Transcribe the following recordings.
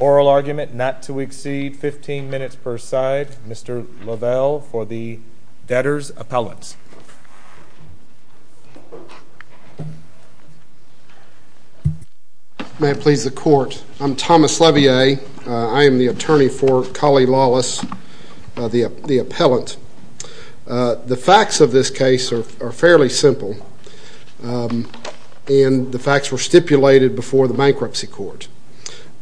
Oral argument not to exceed 15 minutes per side. Mr. Lavelle for the debtor's appellate. May it please the court. I'm Thomas Lavelle. I am the attorney for Collie Lawless, the appellant. The facts of this case are fairly simple. And the facts were stipulated before the bankruptcy court.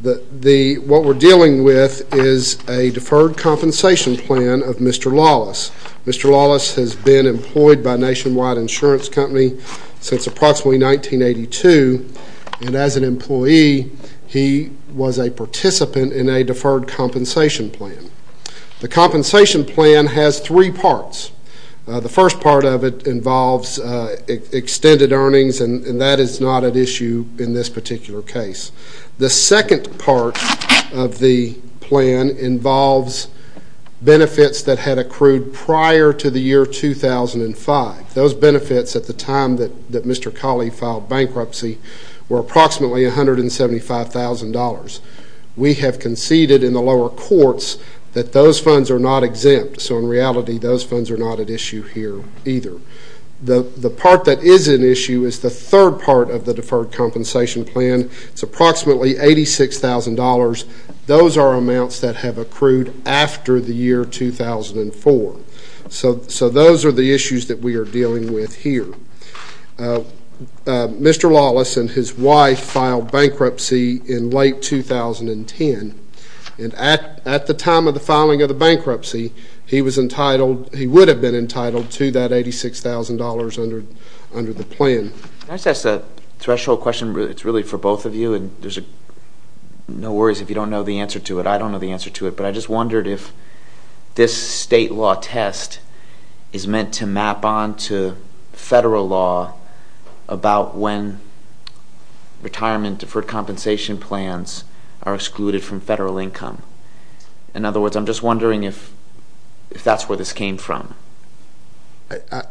What we're dealing with is a deferred compensation plan of Mr. Lawless. Mr. Lawless has been employed by Nationwide Insurance Company since approximately 1982, and as an employee he was a participant in a deferred compensation plan. The compensation plan has three parts. The first part of it involves extended earnings, and that is not at issue in this particular case. The second part of the plan involves benefits that had accrued prior to the year 2005. Those benefits at the time that Mr. Collie filed bankruptcy were approximately $175,000. We have conceded in the lower courts that those funds are not exempt, so in reality those funds are not at issue here either. The part that is at issue is the third part of the deferred compensation plan. It's approximately $86,000. Those are amounts that have accrued after the year 2004. So those are the issues that we are dealing with here. Mr. Lawless and his wife filed bankruptcy in late 2010, and at the time of the filing of the bankruptcy he would have been entitled to that $86,000 under the plan. Can I just ask a threshold question? It's really for both of you, and there's no worries if you don't know the answer to it. I don't know the answer to it, but I just wondered if this state law test is meant to map on to federal law about when retirement deferred compensation plans are excluded from federal income. In other words, I'm just wondering if that's where this came from.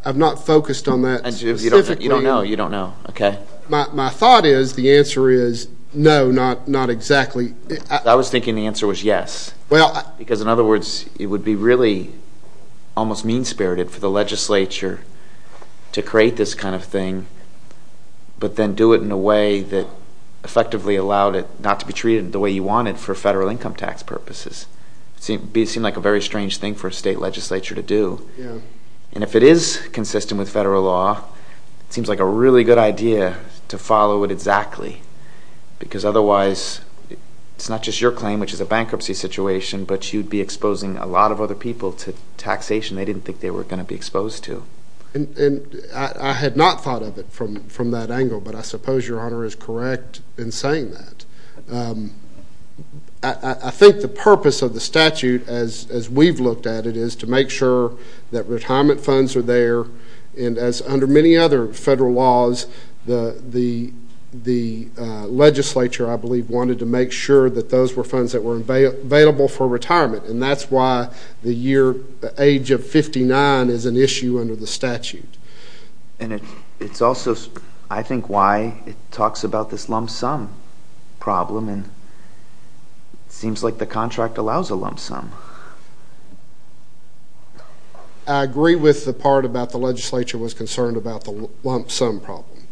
I've not focused on that specifically. You don't know. You don't know. Okay. My thought is the answer is no, not exactly. I was thinking the answer was yes, because in other words it would be really almost mean-spirited for the legislature to create this kind of thing, but then do it in a way that effectively allowed it not to be treated the way you want it for federal income tax purposes. It would seem like a very strange thing for a state legislature to do, and if it is consistent with federal law, it seems like a really good idea to follow it exactly, because otherwise it's not just your claim, which is a bankruptcy situation, but you'd be exposing a lot of other people to taxation they didn't think they were going to be exposed to. I had not thought of it from that angle, but I suppose Your Honor is correct in saying that. I think the purpose of the statute, as we've looked at it, is to make sure that retirement funds are there, and as under many other federal laws, the legislature, I believe, wanted to make sure that those were funds that were available for retirement, and that's why the year age of 59 is an issue under the statute. And it's also, I think, why it talks about this lump sum problem, and it seems like the contract allows a lump sum. I agree with the part about the legislature was concerned about the lump sum problem,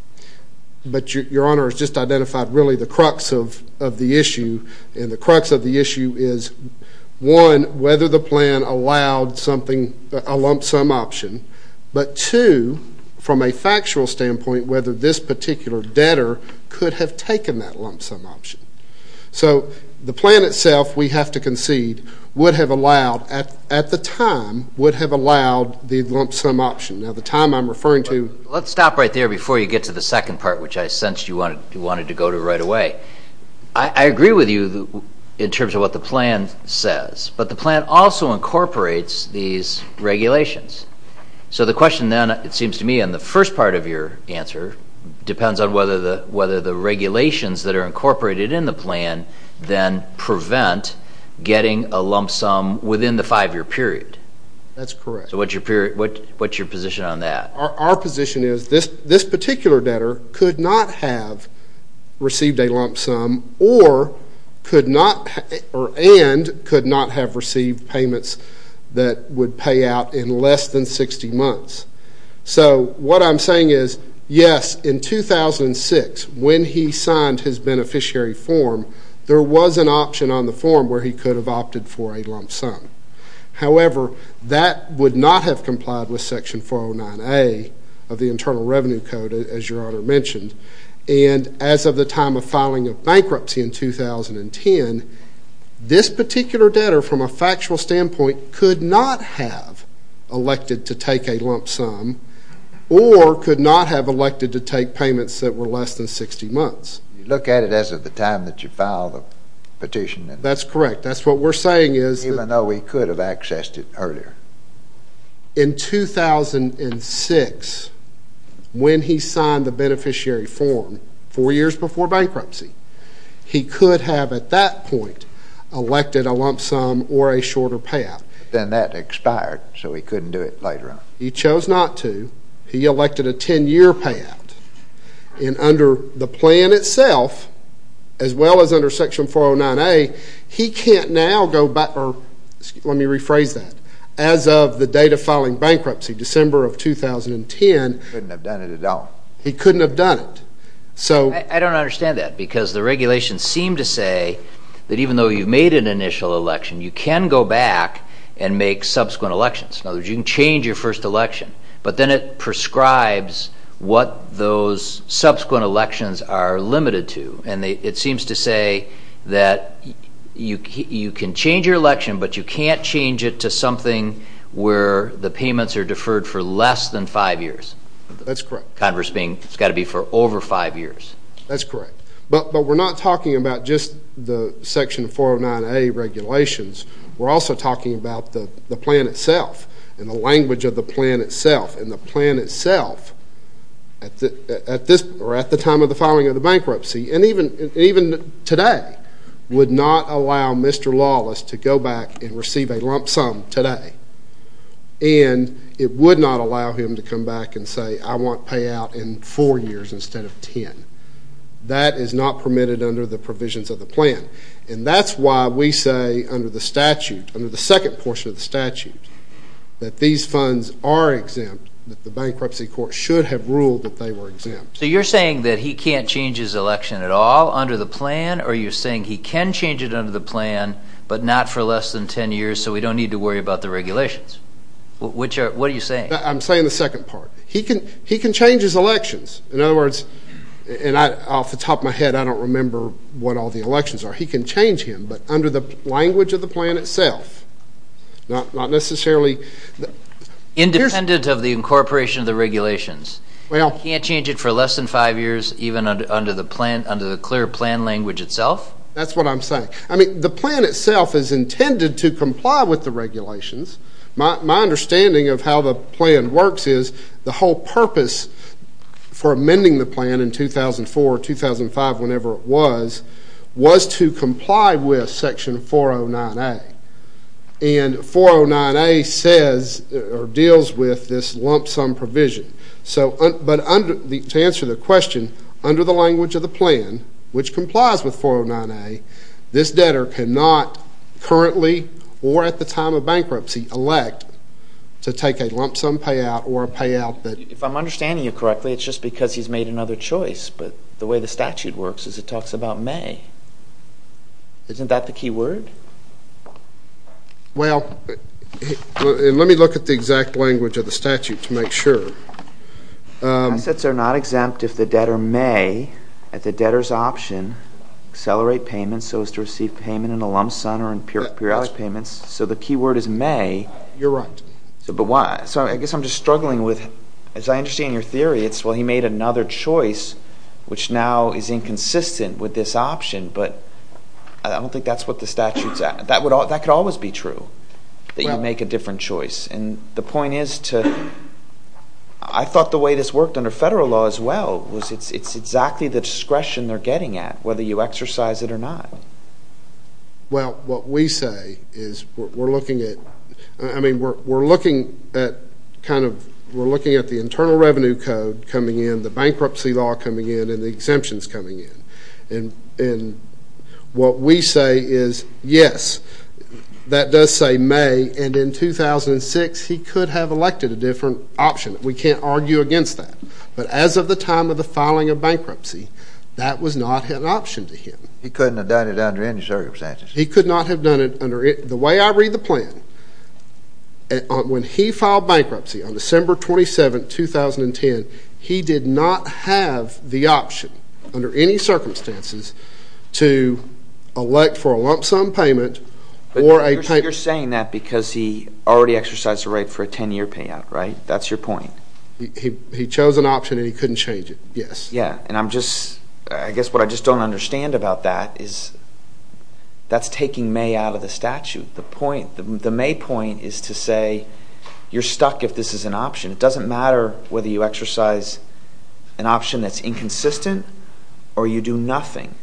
but Your Honor has just identified really the crux of the issue, and the crux of the issue is, one, whether the plan allowed something, a lump sum option, but two, from a factual standpoint, whether this particular debtor could have taken that lump sum option. So the plan itself, we have to concede, would have allowed, at the time, would have allowed the lump sum option. Now the time I'm referring to... Let's stop right there before you get to the second part, which I sensed you wanted to go to right away. I agree with you in terms of what the plan says, but the plan also incorporates these regulations. So the question then, it seems to me, in the first part of your answer depends on whether the regulations that are incorporated in the plan then prevent getting a lump sum within the five-year period. That's correct. So what's your position on that? Our position is this particular debtor could not have received a lump sum and could not have received payments that would pay out in less than 60 months. So what I'm saying is, yes, in 2006, when he signed his beneficiary form, there was an option on the form where he could have opted for a lump sum. However, that would not have complied with Section 409A of the Internal Revenue Code, as Your Honor mentioned. And as of the time of filing of bankruptcy in 2010, this particular debtor, from a factual standpoint, could not have elected to take a lump sum or could not have elected to take payments that were less than 60 months. You look at it as of the time that you filed the petition. That's correct. Even though he could have accessed it earlier. In 2006, when he signed the beneficiary form, four years before bankruptcy, he could have at that point elected a lump sum or a shorter payout. Then that expired, so he couldn't do it later on. He chose not to. He elected a 10-year payout. And under the plan itself, as well as under Section 409A, he can't now go back or let me rephrase that. As of the date of filing bankruptcy, December of 2010. He couldn't have done it at all. He couldn't have done it. I don't understand that because the regulations seem to say that even though you've made an initial election, you can go back and make subsequent elections. In other words, you can change your first election, but then it prescribes what those subsequent elections are limited to. And it seems to say that you can change your election, but you can't change it to something where the payments are deferred for less than five years. That's correct. Converse being it's got to be for over five years. That's correct. But we're not talking about just the Section 409A regulations. We're also talking about the plan itself and the language of the plan itself. And the plan itself, at the time of the filing of the bankruptcy and even today, would not allow Mr. Lawless to go back and receive a lump sum today. And it would not allow him to come back and say, I want payout in four years instead of 10. That is not permitted under the provisions of the plan. And that's why we say under the statute, under the second portion of the statute, that these funds are exempt, that the bankruptcy court should have ruled that they were exempt. So you're saying that he can't change his election at all under the plan? Or you're saying he can change it under the plan, but not for less than 10 years so we don't need to worry about the regulations? What are you saying? I'm saying the second part. He can change his elections. In other words, and off the top of my head, I don't remember what all the elections are. He can change him, but under the language of the plan itself, not necessarily. Independent of the incorporation of the regulations. He can't change it for less than five years even under the clear plan language itself? That's what I'm saying. I mean, the plan itself is intended to comply with the regulations. My understanding of how the plan works is the whole purpose for amending the plan in 2004 or 2005, whenever it was, was to comply with section 409A. And 409A deals with this lump sum provision. But to answer the question, under the language of the plan, which complies with 409A, this debtor cannot currently or at the time of bankruptcy elect to take a lump sum payout or a payout that... If I'm understanding you correctly, it's just because he's made another choice. But the way the statute works is it talks about May. Isn't that the key word? Well, let me look at the exact language of the statute to make sure. Assets are not exempt if the debtor may, at the debtor's option, accelerate payments so as to receive payment in a lump sum or in periodic payments. So the key word is May. You're right. So I guess I'm just struggling with, as I understand your theory, it's, well, he made another choice, which now is inconsistent with this option. But I don't think that's what the statute's at. That could always be true, that you make a different choice. And the point is to, I thought the way this worked under federal law as well was it's exactly the discretion they're getting at, whether you exercise it or not. Well, what we say is we're looking at, I mean, we're looking at kind of, we're looking at the Internal Revenue Code coming in, the bankruptcy law coming in, and the exemptions coming in. And what we say is, yes, that does say May. And in 2006, he could have elected a different option. We can't argue against that. But as of the time of the filing of bankruptcy, that was not an option to him. He couldn't have done it under any circumstances. He could not have done it under it. The way I read the plan, when he filed bankruptcy on December 27th, 2010, he did not have the option under any circumstances to elect for a lump sum payment or a payment. But you're saying that because he already exercised a right for a 10-year payout, right? That's your point. He chose an option and he couldn't change it, yes. Yeah, and I'm just – I guess what I just don't understand about that is that's taking May out of the statute. The point – the May point is to say you're stuck if this is an option. It doesn't matter whether you exercise an option that's inconsistent or you do nothing.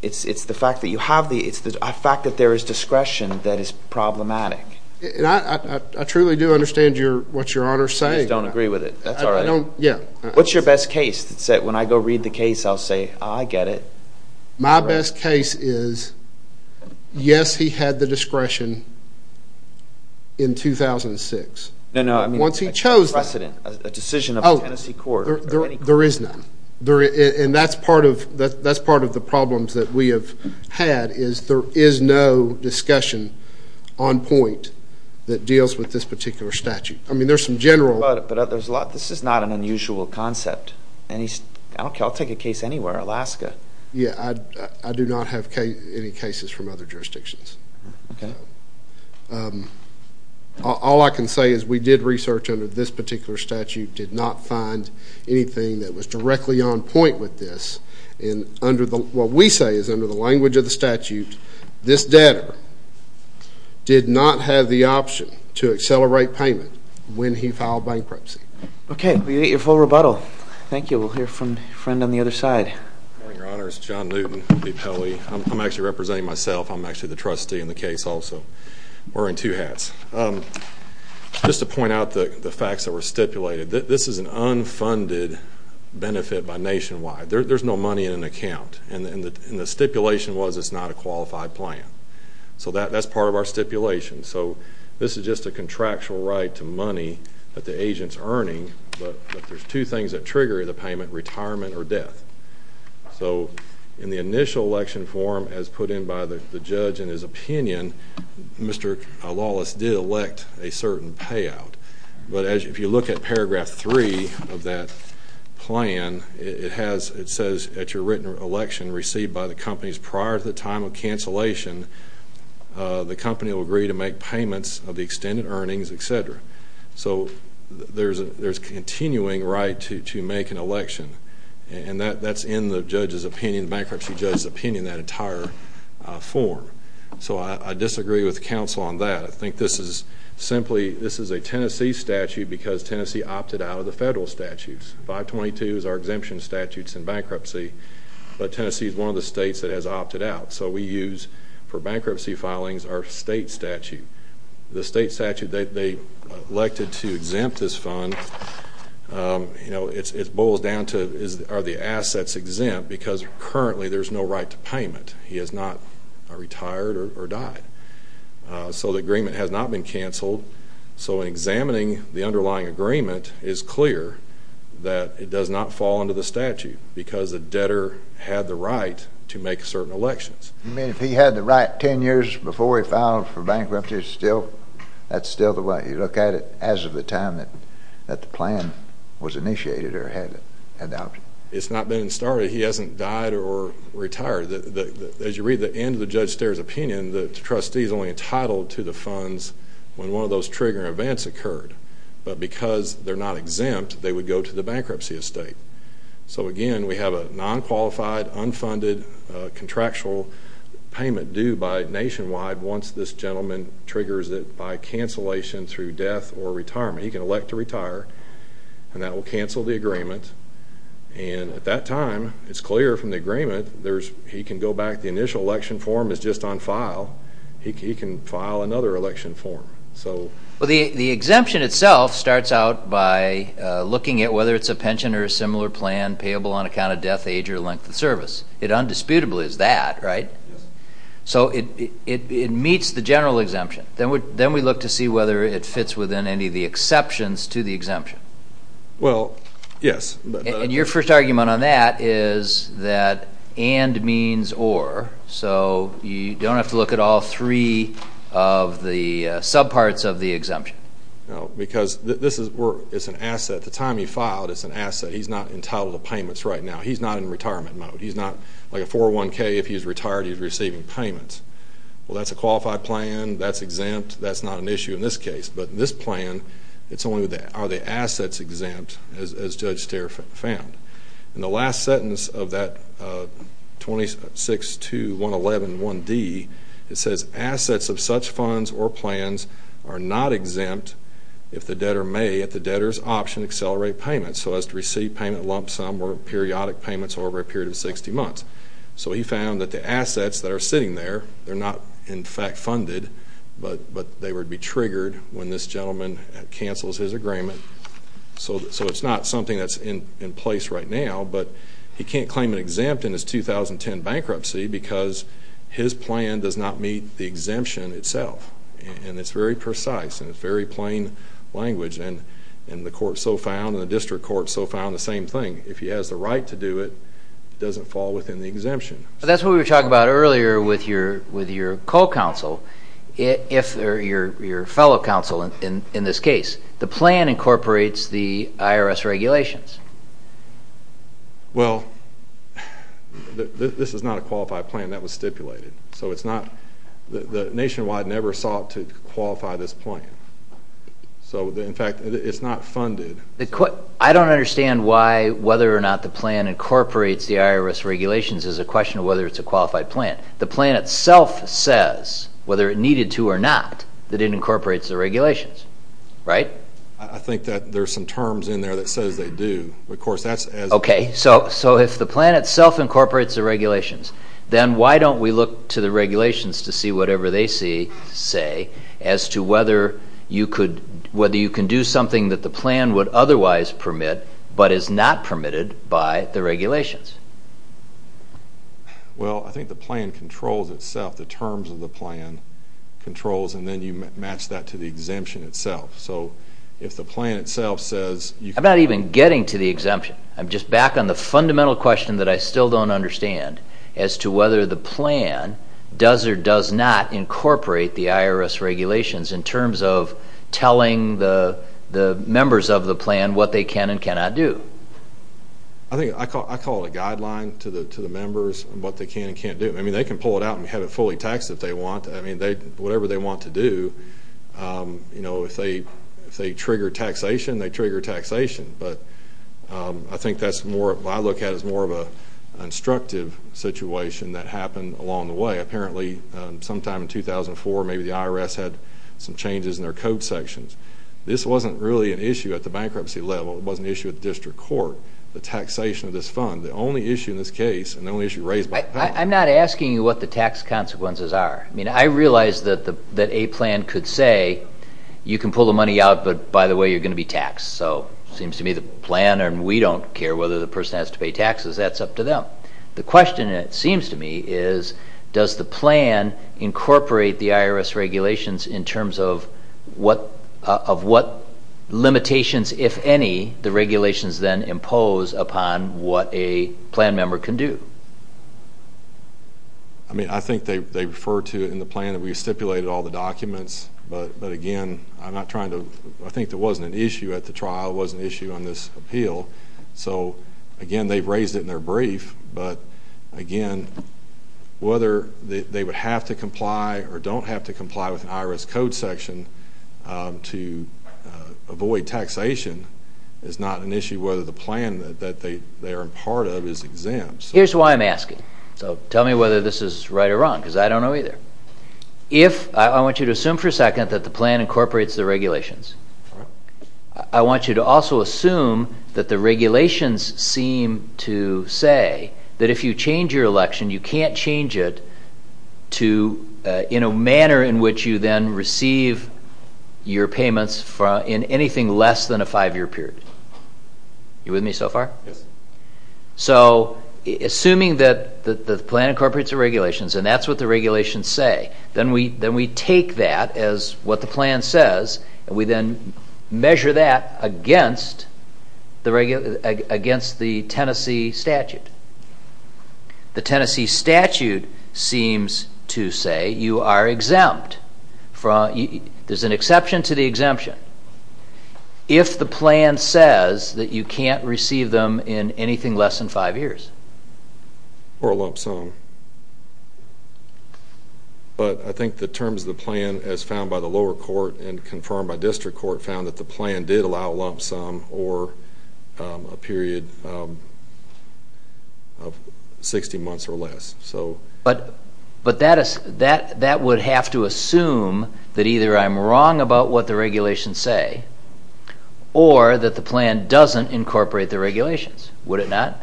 It's the fact that you have the – it's the fact that there is discretion that is problematic. I truly do understand what Your Honor is saying. I just don't agree with it. That's all right. I don't – yeah. What's your best case? It's that when I go read the case, I'll say, I get it. My best case is yes, he had the discretion in 2006. No, no. Once he chose that. A precedent, a decision of the Tennessee court. There is none. And that's part of the problems that we have had is there is no discussion on point that deals with this particular statute. I mean there's some general – But there's a lot – this is not an unusual concept. I don't care. I'll take a case anywhere. Alaska. Yeah. I do not have any cases from other jurisdictions. Okay. All I can say is we did research under this particular statute, did not find anything that was directly on point with this. And what we say is under the language of the statute, this debtor did not have the option to accelerate payment when he filed bankruptcy. Okay. We'll get your full rebuttal. Thank you. We'll hear from the friend on the other side. Good morning, Your Honors. John Newton. I'm actually representing myself. I'm actually the trustee in the case also. Wearing two hats. Just to point out the facts that were stipulated, this is an unfunded benefit by Nationwide. There's no money in an account. And the stipulation was it's not a qualified plan. So that's part of our stipulation. So this is just a contractual right to money that the agent's earning. But there's two things that trigger the payment, retirement or death. So in the initial election form as put in by the judge in his opinion, Mr. Lawless did elect a certain payout. But if you look at paragraph three of that plan, it says at your written election received by the companies prior to the time of cancellation, the company will agree to make payments of the extended earnings, et cetera. So there's a continuing right to make an election. And that's in the bankruptcy judge's opinion, that entire form. So I disagree with counsel on that. I think this is simply a Tennessee statute because Tennessee opted out of the federal statutes. 522 is our exemption statutes in bankruptcy. But Tennessee is one of the states that has opted out. So we use for bankruptcy filings our state statute. The state statute they elected to exempt this fund, you know, it boils down to are the assets exempt because currently there's no right to payment. He has not retired or died. So the agreement has not been canceled. So in examining the underlying agreement, it's clear that it does not fall under the statute because the debtor had the right to make certain elections. You mean if he had the right 10 years before he filed for bankruptcy, that's still the right? You look at it as of the time that the plan was initiated or had it adopted? It's not been started. He hasn't died or retired. As you read the end of the judge's opinion, the trustee is only entitled to the funds when one of those triggering events occurred. But because they're not exempt, they would go to the bankruptcy estate. So, again, we have a nonqualified, unfunded, contractual payment due by Nationwide once this gentleman triggers it by cancellation through death or retirement. He can elect to retire. And that will cancel the agreement. And at that time, it's clear from the agreement he can go back. The initial election form is just on file. He can file another election form. Well, the exemption itself starts out by looking at whether it's a pension or a similar plan payable on account of death, age, or length of service. It undisputably is that, right? So it meets the general exemption. Then we look to see whether it fits within any of the exceptions to the exemption. Well, yes. And your first argument on that is that and means or. So you don't have to look at all three of the subparts of the exemption. No, because this is an asset. At the time he filed, it's an asset. He's not entitled to payments right now. He's not in retirement mode. He's not like a 401k. If he's retired, he's receiving payments. Well, that's a qualified plan. That's exempt. That's not an issue in this case. But in this plan, it's only are the assets exempt, as Judge Steyer found. In the last sentence of that 26-111-1D, it says, Assets of such funds or plans are not exempt if the debtor may, at the debtor's option, accelerate payment. So as to receive payment lump sum or periodic payments over a period of 60 months. So he found that the assets that are sitting there, they're not, in fact, funded. But they would be triggered when this gentleman cancels his agreement. So it's not something that's in place right now. But he can't claim it exempt in his 2010 bankruptcy because his plan does not meet the exemption itself. And it's very precise and it's very plain language. And the court so found and the district court so found the same thing. If he has the right to do it, it doesn't fall within the exemption. That's what we were talking about earlier with your co-counsel, your fellow counsel in this case. The plan incorporates the IRS regulations. Well, this is not a qualified plan. That was stipulated. So it's not. Nationwide never sought to qualify this plan. So, in fact, it's not funded. I don't understand why whether or not the plan incorporates the IRS regulations is a question of whether it's a qualified plan. The plan itself says, whether it needed to or not, that it incorporates the regulations. Right? I think that there's some terms in there that says they do. Of course, that's as... Okay. So if the plan itself incorporates the regulations, then why don't we look to the regulations to see whatever they say as to whether you can do something that the plan would otherwise permit but is not permitted by the regulations? Well, I think the plan controls itself. The terms of the plan controls, and then you match that to the exemption itself. So if the plan itself says... I'm not even getting to the exemption. I'm just back on the fundamental question that I still don't understand as to whether the plan does or does not incorporate the IRS regulations in terms of telling the members of the plan what they can and cannot do. I think I call it a guideline to the members of what they can and can't do. I mean, they can pull it out and have it fully taxed if they want. I mean, whatever they want to do, you know, if they trigger taxation, they trigger taxation. But I think that's more of what I look at as more of an instructive situation that happened along the way. Apparently, sometime in 2004, maybe the IRS had some changes in their code sections. This wasn't really an issue at the bankruptcy level. It wasn't an issue at the district court, the taxation of this fund. The only issue in this case and the only issue raised by... I'm not asking you what the tax consequences are. I mean, I realize that a plan could say you can pull the money out, but by the way, you're going to be taxed. So it seems to me the plan and we don't care whether the person has to pay taxes. That's up to them. The question, it seems to me, is does the plan incorporate the IRS regulations in terms of what limitations, if any, the regulations then impose upon what a plan member can do. I mean, I think they refer to it in the plan that we stipulated all the documents. But, again, I'm not trying to...I think there wasn't an issue at the trial. It wasn't an issue on this appeal. So, again, they've raised it in their brief. But, again, whether they would have to comply or don't have to comply with an IRS code section to avoid taxation is not an issue whether the plan that they are a part of is exempt. Here's why I'm asking. So tell me whether this is right or wrong because I don't know either. I want you to assume for a second that the plan incorporates the regulations. I want you to also assume that the regulations seem to say that if you change your election, you can't change it in a manner in which you then receive your payments in anything less than a five-year period. You with me so far? Yes. So assuming that the plan incorporates the regulations and that's what the regulations say, then we take that as what the plan says and we then measure that against the Tennessee statute. The Tennessee statute seems to say you are exempt. If the plan says that you can't receive them in anything less than five years. Or a lump sum. But I think the terms of the plan as found by the lower court and confirmed by district court found that the plan did allow a lump sum or a period of 60 months or less. But that would have to assume that either I'm wrong about what the regulations say or that the plan doesn't incorporate the regulations. Would it not?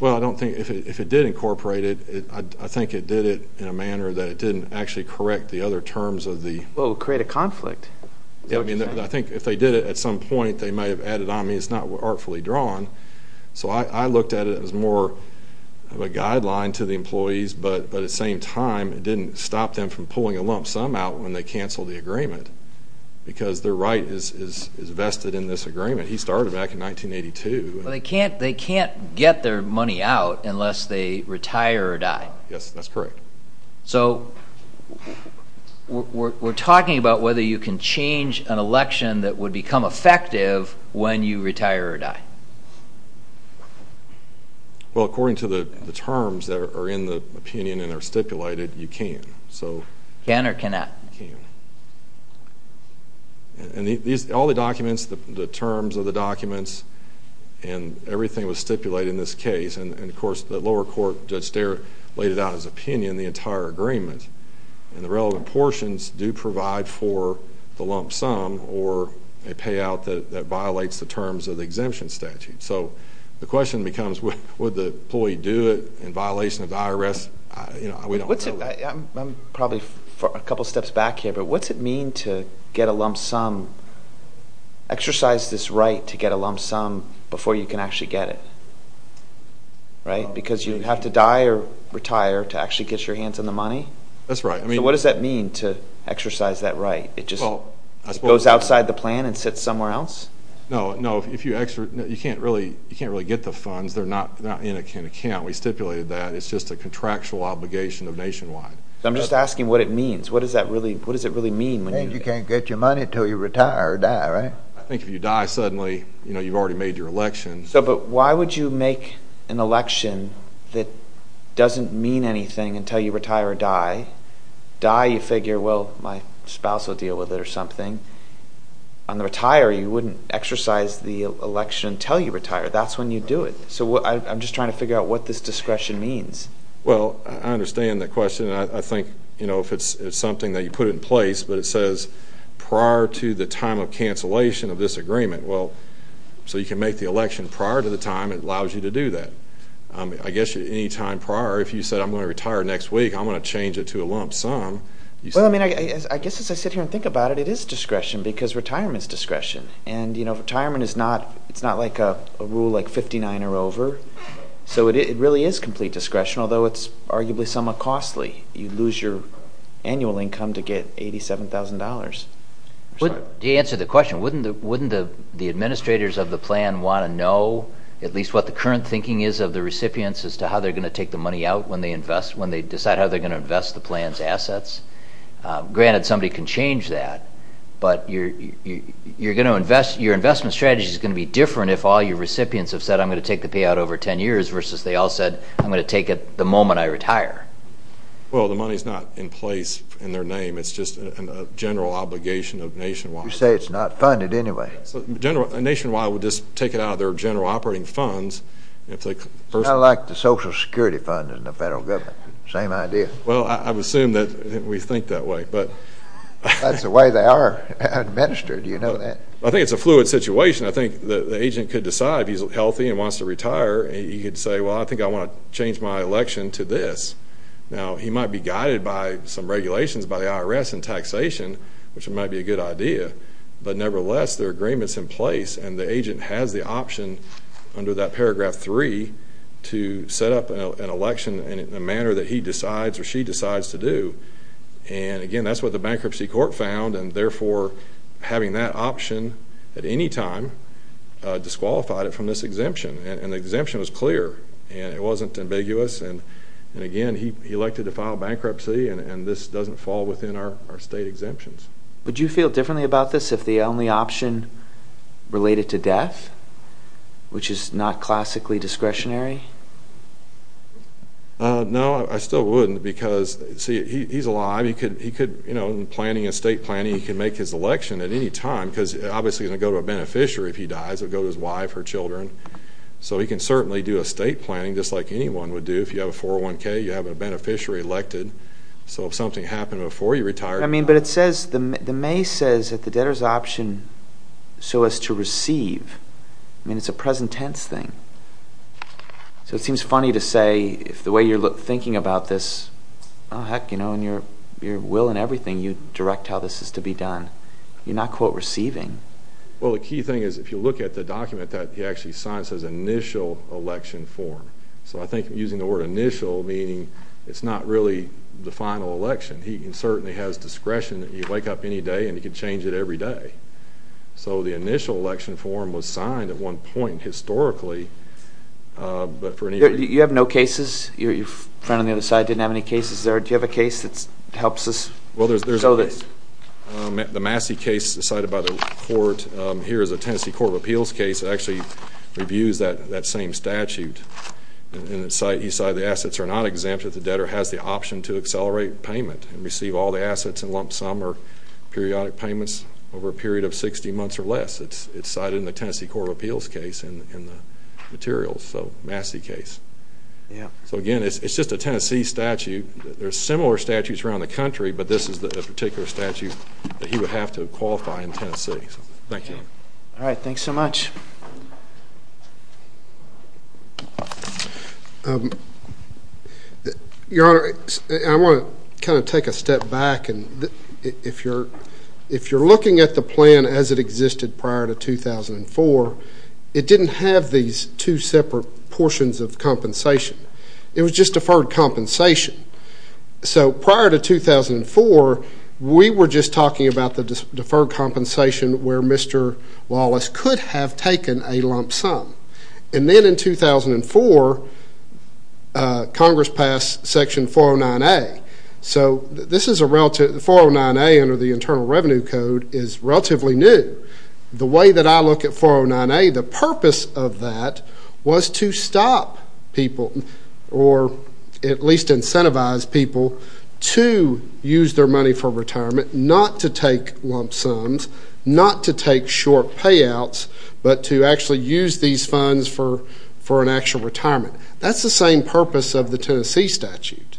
Well, if it did incorporate it, I think it did it in a manner that it didn't actually correct the other terms. Well, it would create a conflict. I think if they did it at some point, they might have added on me. It's not artfully drawn. So I looked at it as more of a guideline to the employees, but at the same time it didn't stop them from pulling a lump sum out when they canceled the agreement because their right is vested in this agreement. He started back in 1982. They can't get their money out unless they retire or die. Yes, that's correct. So we're talking about whether you can change an election that would become effective when you retire or die. Well, according to the terms that are in the opinion and are stipulated, you can. Can or cannot? You can. And all the documents, the terms of the documents, and everything was stipulated in this case, and, of course, the lower court, Judge Starr, laid it out in his opinion, the entire agreement, and the relevant portions do provide for the lump sum or a payout that violates the terms of the exemption statute. So the question becomes would the employee do it in violation of the IRS? We don't know. I'm probably a couple steps back here, but what's it mean to get a lump sum, exercise this right to get a lump sum before you can actually get it, right, because you have to die or retire to actually get your hands on the money? That's right. So what does that mean to exercise that right? It just goes outside the plan and sits somewhere else? No, no, you can't really get the funds. They're not in account. We stipulated that. It's just a contractual obligation of Nationwide. I'm just asking what it means. What does it really mean? You can't get your money until you retire or die, right? I think if you die suddenly, you've already made your election. But why would you make an election that doesn't mean anything until you retire or die? Die, you figure, well, my spouse will deal with it or something. On the retire, you wouldn't exercise the election until you retire. That's when you do it. So I'm just trying to figure out what this discretion means. Well, I understand that question. I think, you know, if it's something that you put in place but it says prior to the time of cancellation of this agreement, well, so you can make the election prior to the time it allows you to do that. I guess any time prior, if you said I'm going to retire next week, I'm going to change it to a lump sum. Well, I mean, I guess as I sit here and think about it, it is discretion because retirement is discretion. And, you know, retirement is not like a rule like 59 or over. So it really is complete discretion, although it's arguably somewhat costly. You lose your annual income to get $87,000. To answer the question, wouldn't the administrators of the plan want to know at least what the current thinking is of the recipients as to how they're going to take the money out when they decide how they're going to invest the plan's assets? Granted, somebody can change that. But your investment strategy is going to be different if all your recipients have said I'm going to take the payout over 10 years versus they all said I'm going to take it the moment I retire. Well, the money is not in place in their name. It's just a general obligation of Nationwide. You say it's not funded anyway. Nationwide would just take it out of their general operating funds. Kind of like the Social Security fund in the federal government. Same idea. Well, I would assume that we think that way. That's the way they are administered. Do you know that? I think it's a fluid situation. I think the agent could decide if he's healthy and wants to retire. He could say, well, I think I want to change my election to this. Now, he might be guided by some regulations by the IRS and taxation, which might be a good idea. But nevertheless, there are agreements in place, and the agent has the option under that paragraph 3 to set up an election in a manner that he decides or she decides to do. And, again, that's what the bankruptcy court found. And, therefore, having that option at any time disqualified it from this exemption. And the exemption was clear, and it wasn't ambiguous. And, again, he elected to file bankruptcy, and this doesn't fall within our state exemptions. Would you feel differently about this if the only option related to death, which is not classically discretionary? No, I still wouldn't because, see, he's alive. He could, you know, in planning and state planning, he could make his election at any time because, obviously, he's going to go to a beneficiary if he dies or go to his wife or children. So he can certainly do a state planning just like anyone would do. If you have a 401K, you have a beneficiary elected. So if something happened before you retired. I mean, but it says, the May says that the debtor's option, so as to receive. I mean, it's a present tense thing. So it seems funny to say if the way you're thinking about this, oh, heck, you know, and your will and everything, you direct how this is to be done. You're not, quote, receiving. Well, the key thing is if you look at the document that he actually signs, it says initial election form. So I think using the word initial, meaning it's not really the final election. He certainly has discretion that he can wake up any day and he can change it every day. So the initial election form was signed at one point historically, but for any reason. You have no cases? Your friend on the other side didn't have any cases there. Do you have a case that helps us? Well, there's a Massey case decided by the court. Here is a Tennessee Court of Appeals case that actually reviews that same statute. And it says, the assets are not exempt if the debtor has the option to accelerate payment and receive all the assets in lump sum or periodic payments over a period of 60 months or less. It's cited in the Tennessee Court of Appeals case in the materials, so Massey case. So, again, it's just a Tennessee statute. There are similar statutes around the country, but this is a particular statute that he would have to qualify in Tennessee. Thank you. All right. Thanks so much. Your Honor, I want to kind of take a step back. If you're looking at the plan as it existed prior to 2004, it didn't have these two separate portions of compensation. It was just deferred compensation. So prior to 2004, we were just talking about the deferred compensation where Mr. Wallace could have taken a lump sum. And then in 2004, Congress passed Section 409A. So this is a relative 409A under the Internal Revenue Code is relatively new. The way that I look at 409A, the purpose of that was to stop people or at least incentivize people to use their money for retirement, not to take lump sums, not to take short payouts, but to actually use these funds for an actual retirement. That's the same purpose of the Tennessee statute.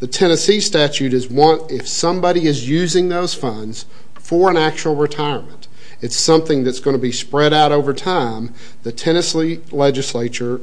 The Tennessee statute is want if somebody is using those funds for an actual retirement. It's something that's going to be spread out over time. The Tennessee legislature,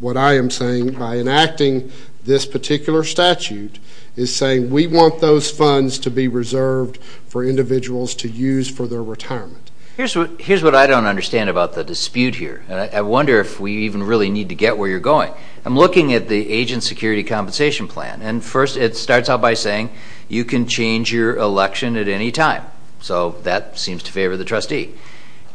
what I am saying by enacting this particular statute, is saying we want those funds to be reserved for individuals to use for their retirement. Here's what I don't understand about the dispute here, and I wonder if we even really need to get where you're going. I'm looking at the agent security compensation plan, and first it starts out by saying you can change your election at any time. So that seems to favor the trustee.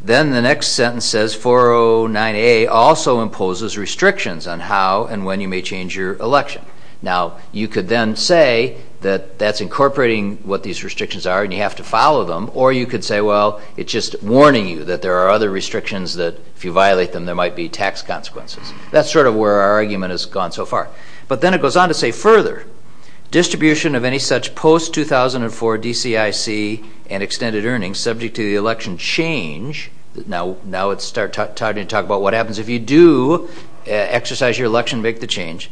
Then the next sentence says 409A also imposes restrictions on how and when you may change your election. Now, you could then say that that's incorporating what these restrictions are and you have to follow them, or you could say, well, it's just warning you that there are other restrictions that if you violate them there might be tax consequences. That's sort of where our argument has gone so far. But then it goes on to say further, distribution of any such post-2004 DCIC and extended earnings subject to the election change, now it's time to talk about what happens if you do exercise your election to make the change,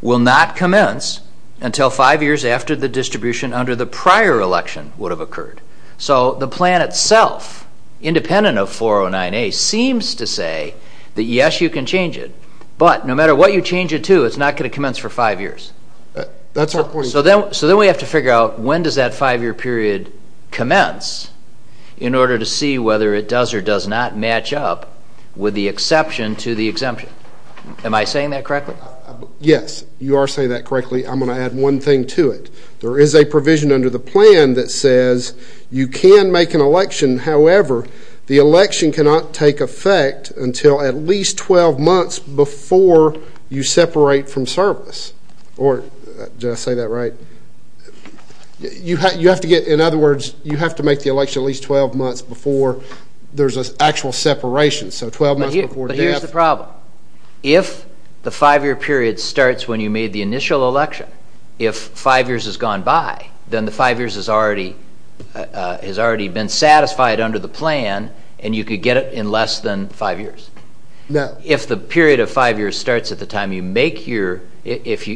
will not commence until five years after the distribution under the prior election would have occurred. So the plan itself, independent of 409A, seems to say that yes, you can change it, but no matter what you change it to, it's not going to commence for five years. So then we have to figure out when does that five-year period commence in order to see whether it does or does not match up with the exception to the exemption. Am I saying that correctly? Yes, you are saying that correctly. I'm going to add one thing to it. There is a provision under the plan that says you can make an election, however, the election cannot take effect until at least 12 months before you separate from service, or did I say that right? You have to get, in other words, you have to make the election at least 12 months before there's an actual separation, so 12 months before death. But here's the problem. If the five-year period starts when you made the initial election, if five years has gone by, then the five years has already been satisfied under the plan and you could get it in less than five years. If the period of five years starts at the time you make your, if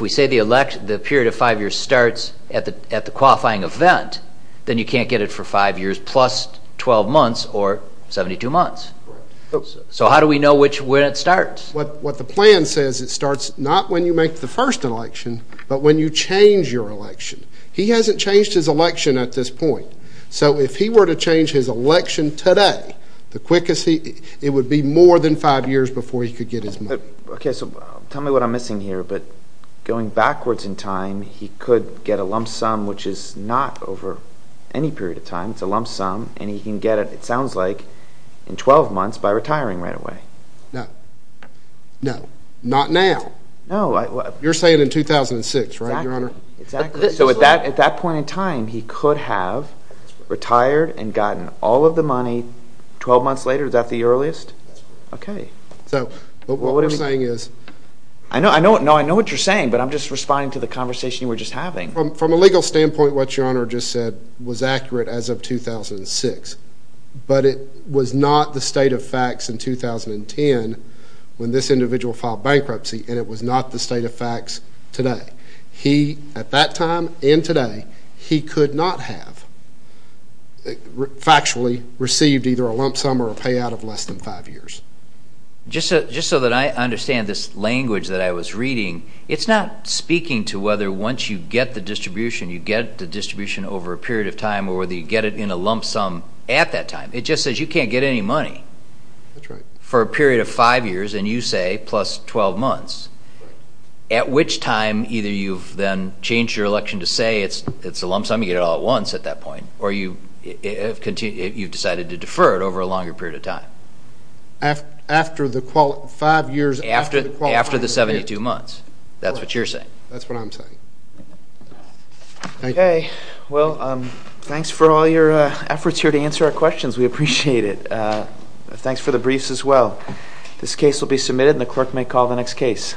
we say the period of five years starts at the qualifying event, then you can't get it for five years plus 12 months or 72 months. So how do we know when it starts? What the plan says, it starts not when you make the first election, but when you change your election. He hasn't changed his election at this point. So if he were to change his election today, it would be more than five years before he could get his money. Okay, so tell me what I'm missing here. But going backwards in time, he could get a lump sum, which is not over any period of time. It's a lump sum, and he can get it, it sounds like, in 12 months by retiring right away. No. No. Not now. No. You're saying in 2006, right, Your Honor? Exactly. So at that point in time, he could have retired and gotten all of the money 12 months later. Is that the earliest? That's correct. Okay. So what we're saying is— I know what you're saying, but I'm just responding to the conversation you were just having. From a legal standpoint, what Your Honor just said was accurate as of 2006, but it was not the state of facts in 2010 when this individual filed bankruptcy, and it was not the state of facts today. He, at that time and today, he could not have factually received either a lump sum or a payout of less than five years. Just so that I understand this language that I was reading, it's not speaking to whether once you get the distribution, you get the distribution over a period of time or whether you get it in a lump sum at that time. It just says you can't get any money for a period of five years, and you say, plus 12 months, at which time either you've then changed your election to say it's a lump sum, you get it all at once at that point, or you've decided to defer it over a longer period of time. After the five years— After the 72 months. That's what you're saying. That's what I'm saying. Okay. Well, thanks for all your efforts here to answer our questions. We appreciate it. Thanks for the briefs as well. This case will be submitted, and the clerk may call the next case.